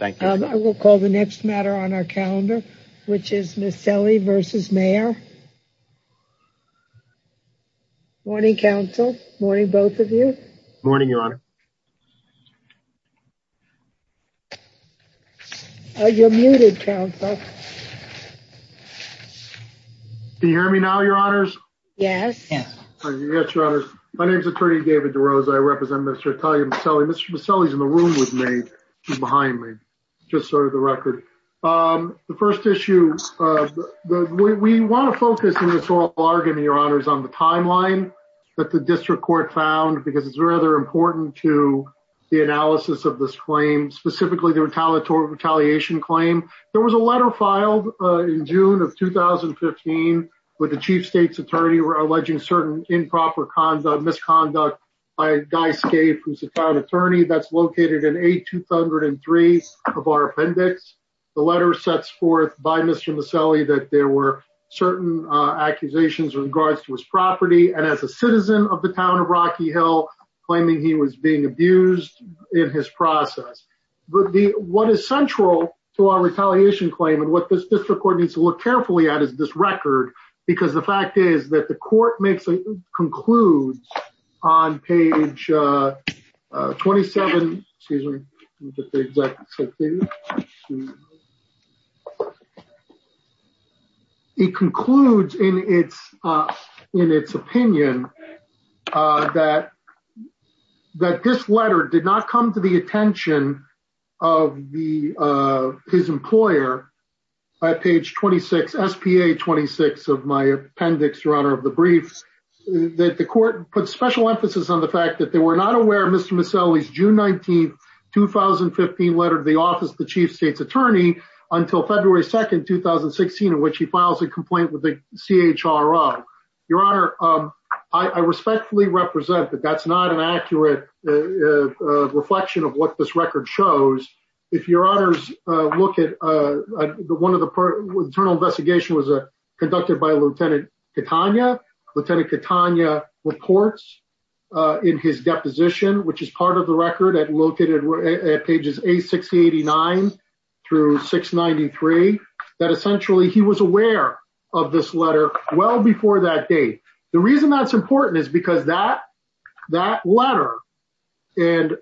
I will call the next matter on our calendar, which is Meseli v. Mehr. Morning, counsel. Morning, both of you. Morning, Your Honor. You're muted, counsel. Can you hear me now, Your Honors? Yes. Yes, Your Honors. My name is Attorney David DeRosa. I represent Mr. Atelier Meseli. Mr. Meseli is in the room with me, behind me, just sort of the record. The first issue, we want to focus in this oral argument, Your Honors, on the timeline that the district court found, because it's rather important to the analysis of this claim, specifically the retaliatory retaliation claim. There was a letter filed in June of 2015 with the chief state's attorney alleging certain improper misconduct by Guy Scaife, who's the town attorney that's located in A203 of our appendix. The letter sets forth by Mr. Meseli that there were certain accusations in regards to his property, and as a citizen of the town of Rocky Hill, claiming he was being abused in his process. But what is central to our retaliation claim and what this district court needs to look carefully at is this record, because the fact is that the court concludes on page 27. Excuse me. It concludes in its opinion that this letter did not come to the attention of his employer at page 26, SPA 26 of my appendix, Your Honor, of the briefs, that the court put special emphasis on the fact that they were not aware of Mr. Meseli's June 19, 2015 letter to the office of the chief state's attorney until February 2, 2016, in which he files a complaint with the CHRO. Your Honor, I respectfully represent that that's not an accurate reflection of what this record shows. If your honors look at the one of the internal investigation was conducted by Lieutenant Catania, Lieutenant Catania reports in his deposition, which is part of the record, located at pages 8689 through 693, that essentially he was aware of this letter well before that date. The reason that's important is because that that letter and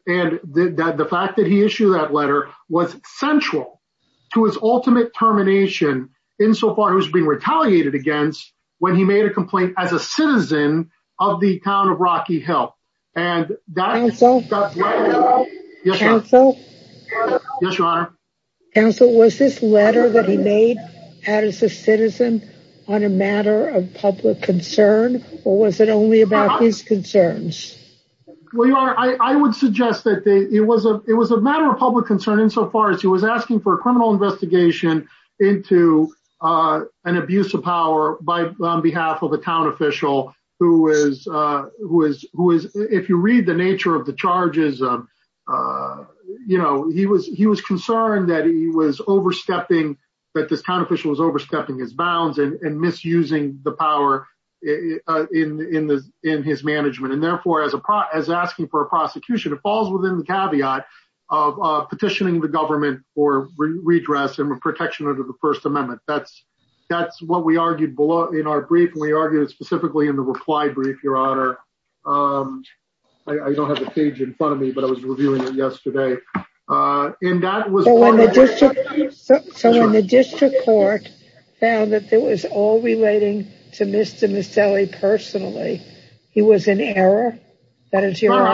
the fact that he issued that letter was central to his ultimate termination insofar as being retaliated against when he made a complaint as a citizen of the town of Rocky Hill. Counsel, was this letter that he made as a citizen on a matter of public concern, or was it only about his concerns? Your Honor, I would suggest that it was a matter of public concern insofar as he was asking for a criminal investigation into an abuse of power on behalf of a town official, who was, if you read the nature of the charges, he was concerned that he was overstepping, that this town official was overstepping his bounds and misusing the power in his management. And therefore, as a pro as asking for a prosecution, it falls within the caveat of petitioning the government for redress and protection under the First Amendment. That's that's what we argued below in our brief. We argued specifically in the reply brief. Your Honor, I don't have a page in front of me, but I was reviewing it yesterday. So when the district court found that it was all relating to Mr. Maselli personally, he was in error? I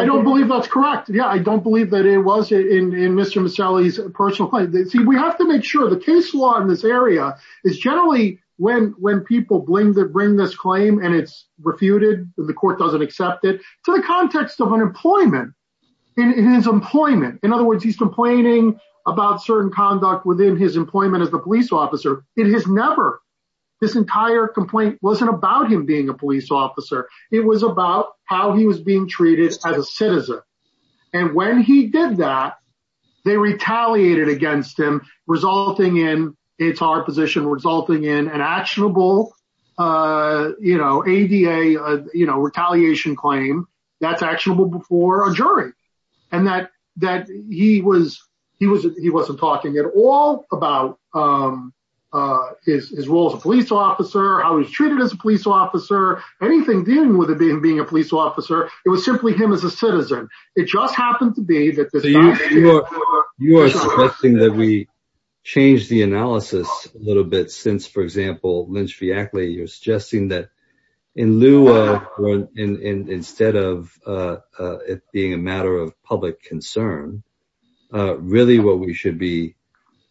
don't believe that's correct. Yeah, I don't believe that it was in Mr. Maselli's personal claim. See, we have to make sure the case law in this area is generally when when people bring this claim and it's refuted, the court doesn't accept it to the context of unemployment in his employment. In other words, he's complaining about certain conduct within his employment as a police officer. It has never this entire complaint wasn't about him being a police officer. It was about how he was being treated as a citizen. And when he did that, they retaliated against him, resulting in it's our position resulting in an actionable, you know, ADA, you know, retaliation claim. That's actionable before a jury and that that he was he was he wasn't talking at all about his role as a police officer, how he was treated as a police officer. Anything dealing with it being being a police officer. It was simply him as a citizen. It just happened to be that you are suggesting that we change the analysis a little bit since, for example, Lynch v. Ackley, you're suggesting that in lieu of instead of it being a matter of public concern, really what we should be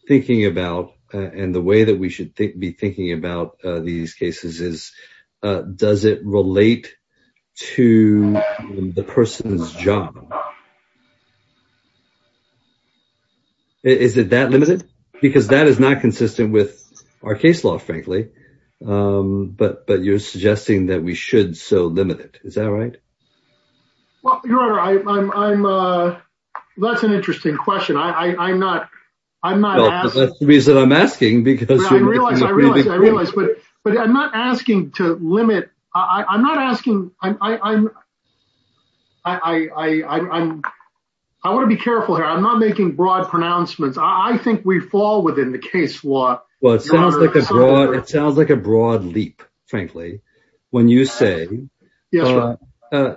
thinking about and the way that we should be thinking about these cases is, does it relate to the person's job? Is it that limited? Because that is not consistent with our case law, frankly. But but you're suggesting that we should so limit it. Is that right? Well, your honor, I'm that's an interesting question. I'm not I'm not the reason I'm asking, because I realize I realize I realize. But but I'm not asking to limit. I'm not asking. I'm. I want to be careful here. I'm not making broad pronouncements. I think we fall within the case law. Well, it sounds like a broad. It sounds like a broad leap, frankly. When you say that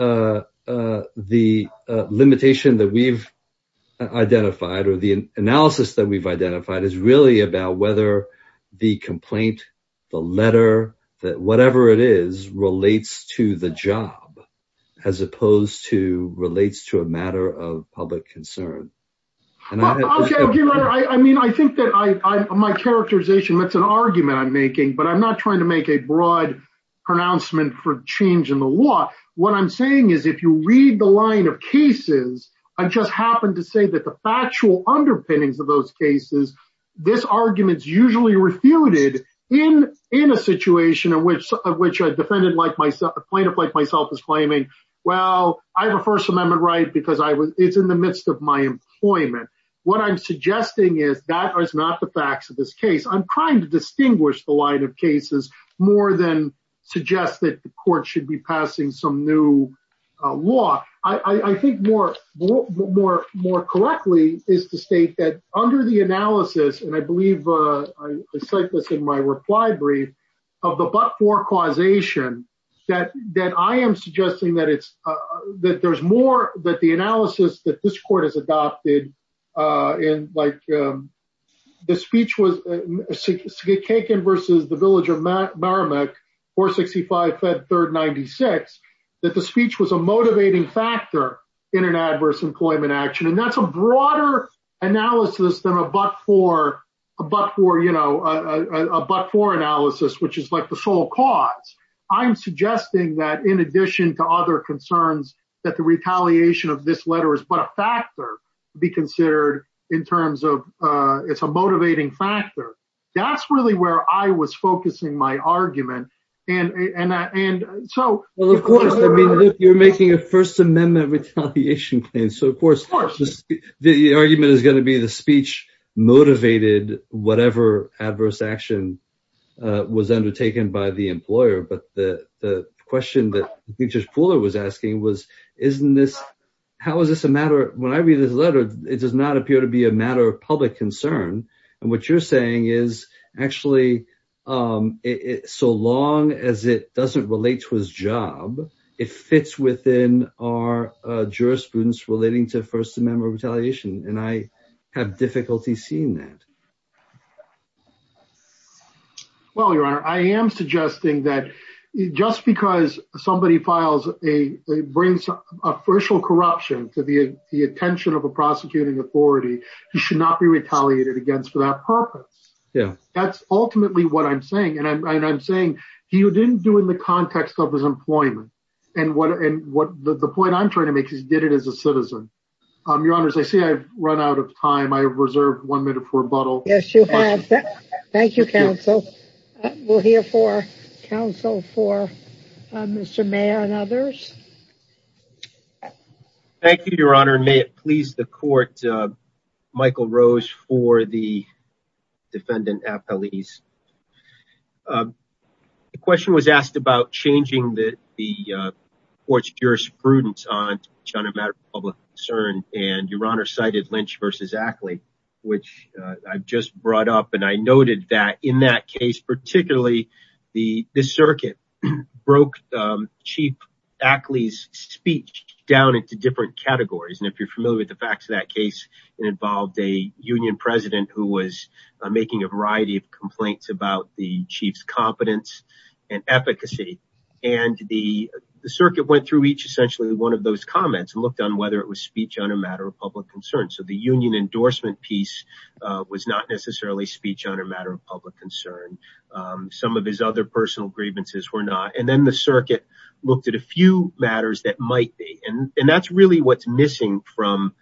the limitation that we've identified or the analysis that we've identified is really about whether the complaint, the letter, that whatever it is, relates to the job as opposed to relates to a matter of public concern. And I mean, I think that I my characterization, that's an argument I'm making, but I'm not trying to make a broad pronouncement for change in the law. What I'm saying is if you read the line of cases, I just happen to say that the factual underpinnings of those cases, this argument is usually refuted in in a situation in which of which a defendant like myself, a plaintiff like myself is claiming, well, I have a First Amendment right because I was in the midst of my employment. What I'm suggesting is that is not the facts of this case. I'm trying to distinguish the line of cases more than suggest that the court should be passing some new law. I think more more more more correctly is to state that under the analysis. And I believe I said this in my reply brief of the but for causation that that I am suggesting that it's that there's more that the analysis that this court has adopted in. The speech was taken versus the village of Merrimack or sixty five third ninety six that the speech was a motivating factor in an adverse employment action. And that's a broader analysis than a buck for a buck for, you know, a buck for analysis, which is like the sole cause. I'm suggesting that in addition to other concerns, that the retaliation of this letter is but a factor to be considered in terms of it's a motivating factor. That's really where I was focusing my argument. And so, of course, you're making a First Amendment retaliation. And so, of course, the argument is going to be the speech motivated, whatever adverse action was undertaken by the employer. But the question that teachers pooler was asking was, isn't this how is this a matter? When I read this letter, it does not appear to be a matter of public concern. And what you're saying is actually it's so long as it doesn't relate to his job. It fits within our jurisprudence relating to First Amendment retaliation. And I have difficulty seeing that. Well, your honor, I am suggesting that just because somebody files a brings official corruption to the attention of a prosecuting authority, you should not be retaliated against for that purpose. Yeah, that's ultimately what I'm saying. And I'm saying you didn't do in the context of his employment. And what and what the point I'm trying to make is did it as a citizen. Your honor, as I say, I've run out of time. I have reserved one minute for a bottle. Yes, you have. Thank you, counsel. We'll hear for counsel for Mr. Mayor and others. Thank you, your honor. May it please the court. Michael Rose for the defendant at police. The question was asked about changing the court's jurisprudence on a matter of public concern. And your honor cited Lynch versus Ackley, which I've just brought up. And I noted that in that case, particularly the circuit broke chief Ackley's speech down into different categories. And if you're familiar with the facts of that case, it involved a union president who was making a variety of complaints about the chief's competence and efficacy. And the circuit went through each essentially one of those comments and looked on whether it was speech on a matter of public concern. So the union endorsement piece was not necessarily speech on a matter of public concern. Some of his other personal grievances were not. And then the circuit looked at a few matters that might be. And that's really what's missing from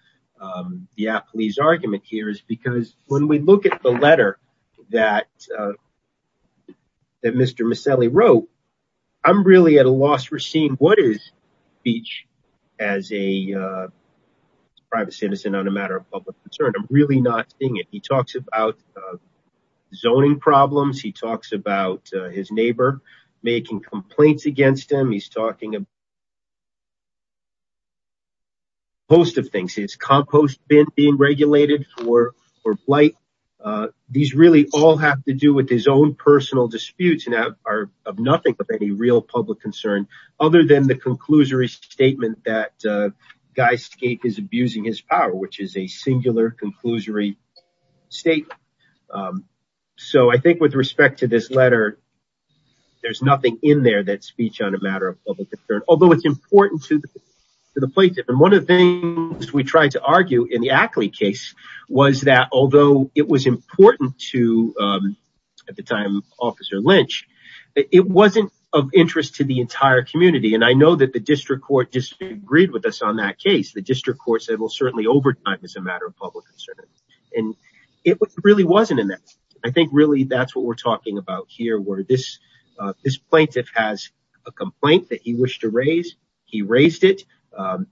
the police argument here is because when we look at the letter that Mr. Maselli wrote, I'm really at a loss for seeing what is speech as a private citizen on a matter of public concern. I'm really not seeing it. He talks about zoning problems. He talks about his neighbor making complaints against him. He's talking about a host of things. It's compost being regulated for or blight. These really all have to do with his own personal disputes and are of nothing but any real public concern other than the conclusory statement that Guy Skate is abusing his power, which is a singular conclusory statement. So I think with respect to this letter, there's nothing in there that speech on a matter of public concern, although it's important to the plaintiff. And one of the things we tried to argue in the Ackley case was that although it was important to at the time Officer Lynch, it wasn't of interest to the entire community. And I know that the district court disagreed with us on that case. The district court said, well, certainly overtime is a matter of public concern. And it really wasn't in that. I think really that's what we're talking about here, where this this plaintiff has a complaint that he wished to raise. He raised it.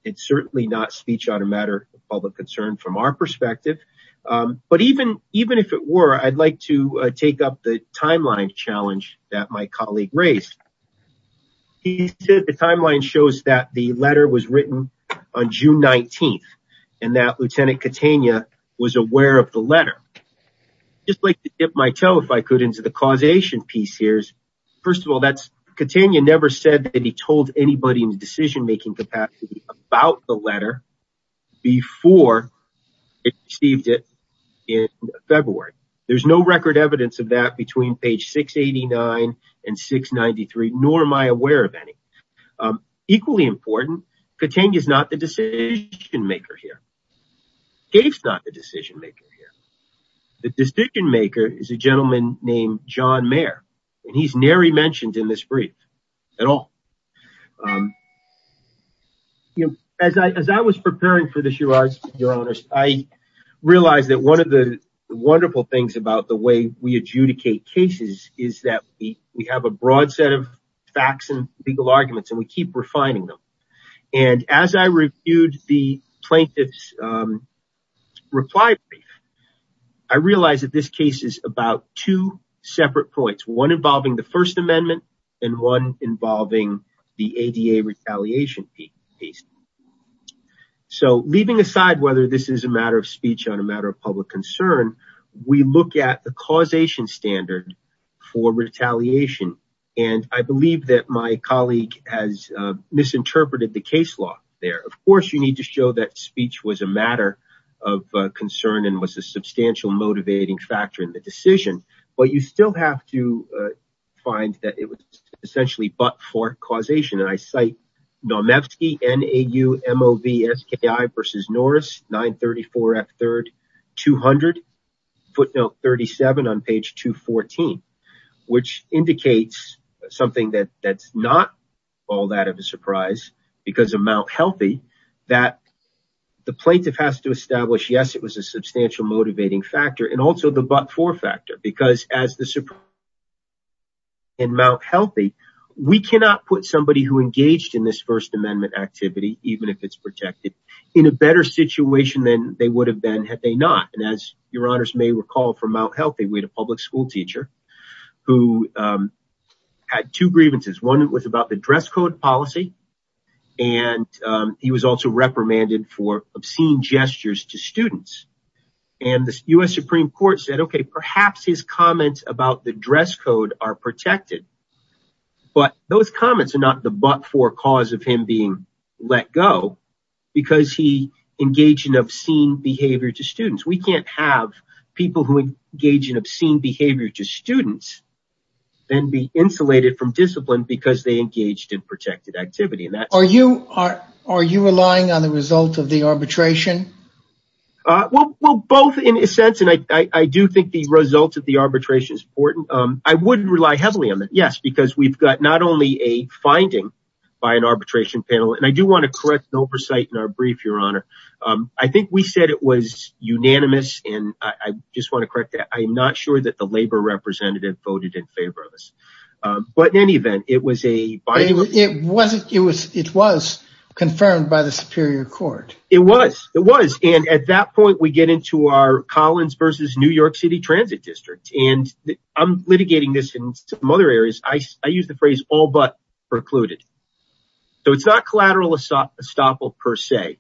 It's certainly not speech on a matter of public concern from our perspective. But even even if it were, I'd like to take up the timeline challenge that my colleague raised. He said the timeline shows that the letter was written on June 19th and that Lieutenant Katania was aware of the letter. Just like to dip my toe, if I could, into the causation piece here. First of all, that's Katania never said that he told anybody in the decision making capacity about the letter before it received it in February. There's no record evidence of that between page 689 and 693, nor am I aware of any. Equally important, Katania is not the decision maker here. Dave's not the decision maker here. The decision maker is a gentleman named John Mayer. And he's nary mentioned in this brief at all. You know, as I as I was preparing for this, your honor, I realized that one of the wonderful things about the way we adjudicate cases is that we have a broad set of facts and legal arguments and we keep refining them. And as I reviewed the plaintiff's reply, I realized that this case is about two separate points, one involving the First Amendment and one involving the ADA retaliation piece. So leaving aside whether this is a matter of speech on a matter of public concern, we look at the causation standard for retaliation. And I believe that my colleague has misinterpreted the case law there. Of course, you need to show that speech was a matter of concern and was a substantial motivating factor in the decision. But you still have to find that it was essentially but for causation. And I cite Nomefsky, N-A-U-M-O-V-S-K-I versus Norris 934 at third 200 footnote 37 on page 214, which indicates something that that's not all that of a surprise because of Mount Healthy that the plaintiff has to establish, yes, it was a substantial motivating factor and also the but for factor. Because as the Supreme Court in Mount Healthy, we cannot put somebody who engaged in this First Amendment activity, even if it's protected, in a better situation than they would have been had they not. And as your honors may recall from Mount Healthy, we had a public school teacher who had two grievances. One was about the dress code policy, and he was also reprimanded for obscene gestures to students. And the U.S. Supreme Court said, OK, perhaps his comments about the dress code are protected. But those comments are not the but for cause of him being let go because he engaged in obscene behavior to students. We can't have people who engage in obscene behavior to students then be insulated from discipline because they engaged in protected activity. Are you are are you relying on the result of the arbitration? Well, both in a sense. And I do think the results of the arbitration is important. I wouldn't rely heavily on that. Yes, because we've got not only a finding by an arbitration panel. And I do want to correct oversight in our brief, your honor. I think we said it was unanimous. And I just want to correct that. I'm not sure that the labor representative voted in favor of us. But in any event, it was a it wasn't it was it was confirmed by the Superior Court. It was it was. And at that point, we get into our Collins versus New York City Transit District. And I'm litigating this in some other areas. I use the phrase all but precluded. So it's not collateral estoppel per se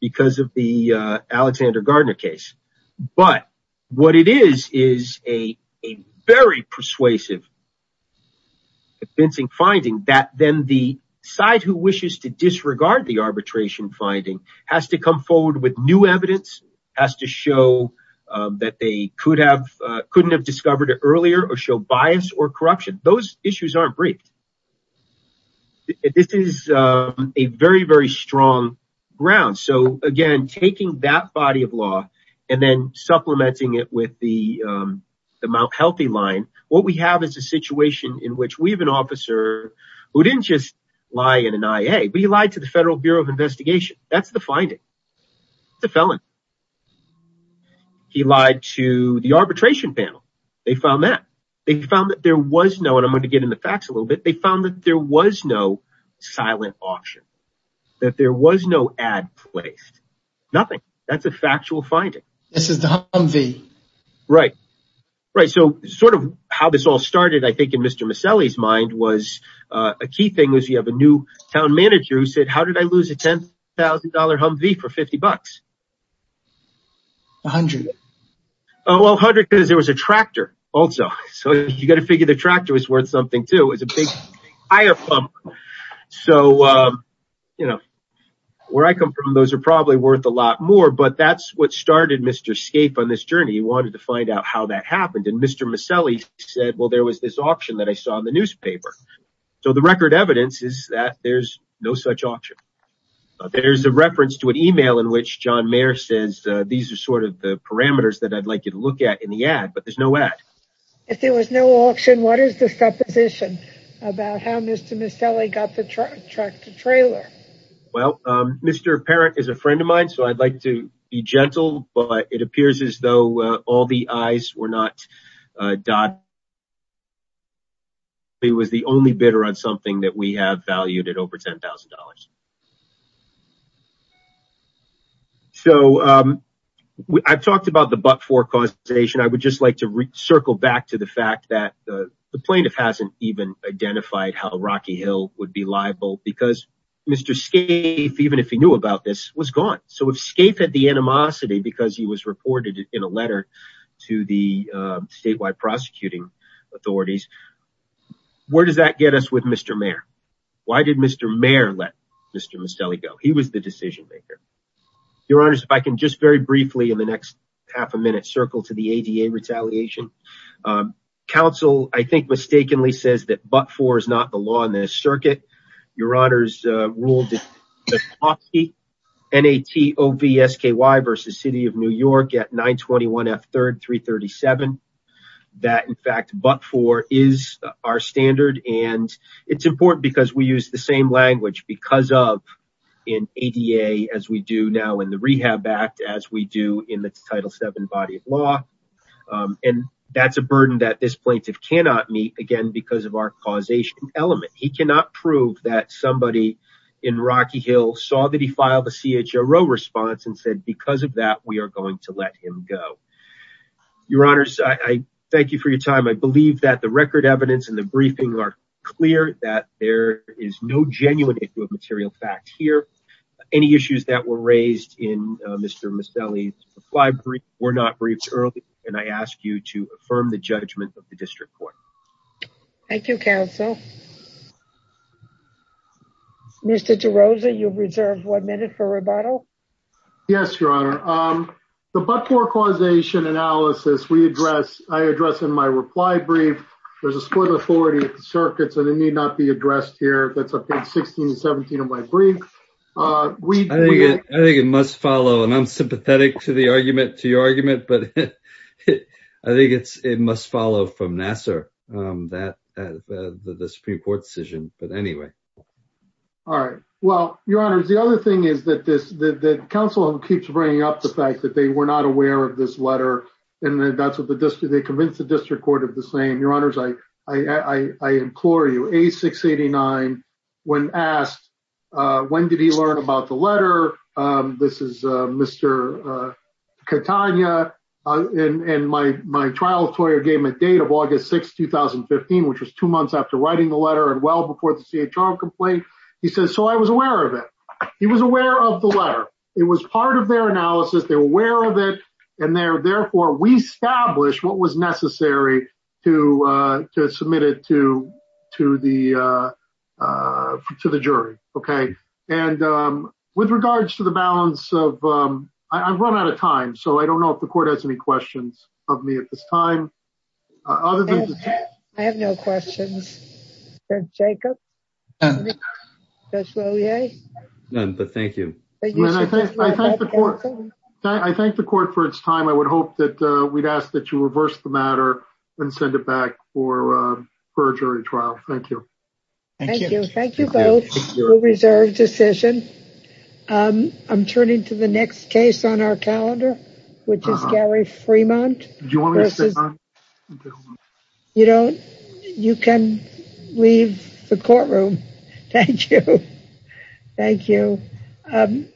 because of the Alexander Gardner case. But what it is is a very persuasive. Defensing finding that then the side who wishes to disregard the arbitration finding has to come forward with new evidence, has to show that they could have couldn't have discovered it earlier or show bias or corruption. Those issues aren't brief. This is a very, very strong ground. So, again, taking that body of law and then supplementing it with the Mount Healthy line, what we have is a situation in which we have an officer who didn't just lie in an IA, but he lied to the Federal Bureau of Investigation. That's the finding. The felon. He lied to the arbitration panel. They found that they found that there was no and I'm going to get in the facts a little bit. They found that there was no silent auction, that there was no ad placed. Nothing. That's a factual finding. This is the Humvee. Right. Right. So sort of how this all started, I think, in Mr. Maselli's mind was a key thing was you have a new town manager who said, how did I lose a ten thousand dollar Humvee for 50 bucks? A hundred. Oh, well, a hundred because there was a tractor also. So you've got to figure the tractor is worth something, too, is a big pump. So, you know, where I come from, those are probably worth a lot more. But that's what started Mr. Scape on this journey. He wanted to find out how that happened. And Mr. Maselli said, well, there was this auction that I saw in the newspaper. So the record evidence is that there's no such auction. There's a reference to an email in which John Mayer says these are sort of the parameters that I'd like you to look at in the ad, but there's no ad. If there was no auction, what is the supposition about how Mr. Maselli got the tractor trailer? Well, Mr. Parent is a friend of mine, so I'd like to be gentle. But it appears as though all the eyes were not. He was the only bidder on something that we have valued at over ten thousand dollars. So I've talked about the but for causation. I would just like to circle back to the fact that the plaintiff hasn't even identified how Rocky Hill would be liable because Mr. Scape, even if he knew about this, was gone. So if Scape had the animosity because he was reported in a letter to the statewide prosecuting authorities, where does that get us with Mr. Mayer? Why did Mr. Mayer let Mr. Maselli go? He was the decision maker. Your Honor, if I can just very briefly in the next half a minute circle to the ADA retaliation. Counsel, I think, mistakenly says that but for is not the law in this circuit. Your Honor's rule. N.A.T.O.V.S.K.Y. versus City of New York at 921 F. Third, 337. That, in fact, but for is our standard. And it's important because we use the same language because of an ADA, as we do now in the Rehab Act, as we do in the Title seven body of law. And that's a burden that this plaintiff cannot meet again because of our causation element. He cannot prove that somebody in Rocky Hill saw that he filed a CHRO response and said because of that, we are going to let him go. Your Honor, I thank you for your time. I believe that the record evidence and the briefing are clear that there is no genuine issue of material fact here. Any issues that were raised in Mr. Miscellany's library were not briefed early. And I ask you to affirm the judgment of the district court. Thank you, Counsel. Mr. DeRosa, you reserved one minute for rebuttal. Yes, Your Honor. The but for causation analysis we address. I address in my reply brief. There's a split authority circuits and they need not be addressed here. That's a 1617 of my brief. We I think it must follow. And I'm sympathetic to the argument to your argument. But I think it's it must follow from Nassar that the Supreme Court decision. But anyway. All right. Well, Your Honor, the other thing is that this council keeps bringing up the fact that they were not aware of this letter. And that's what the district they convinced the district court of the same. Your Honor's like I implore you a 689 when asked when did he learn about the letter? This is Mr. Catania and my my trial lawyer gave me a date of August 6, 2015, which was two months after writing the letter. And well, before the CHR complaint, he says, so I was aware of it. He was aware of the letter. It was part of their analysis. They were aware of it. And therefore, we establish what was necessary to to submit it to to the to the jury. OK. And with regards to the balance of I've run out of time. So I don't know if the court has any questions of me at this time. Other than I have no questions. Jacob. Thank you. I thank the court for its time. I would hope that we'd ask that you reverse the matter and send it back for perjury trial. Thank you. Thank you. Thank you. Reserved decision. I'm turning to the next case on our calendar, which is Gary Fremont. You know, you can leave the courtroom. Thank you. Thank you.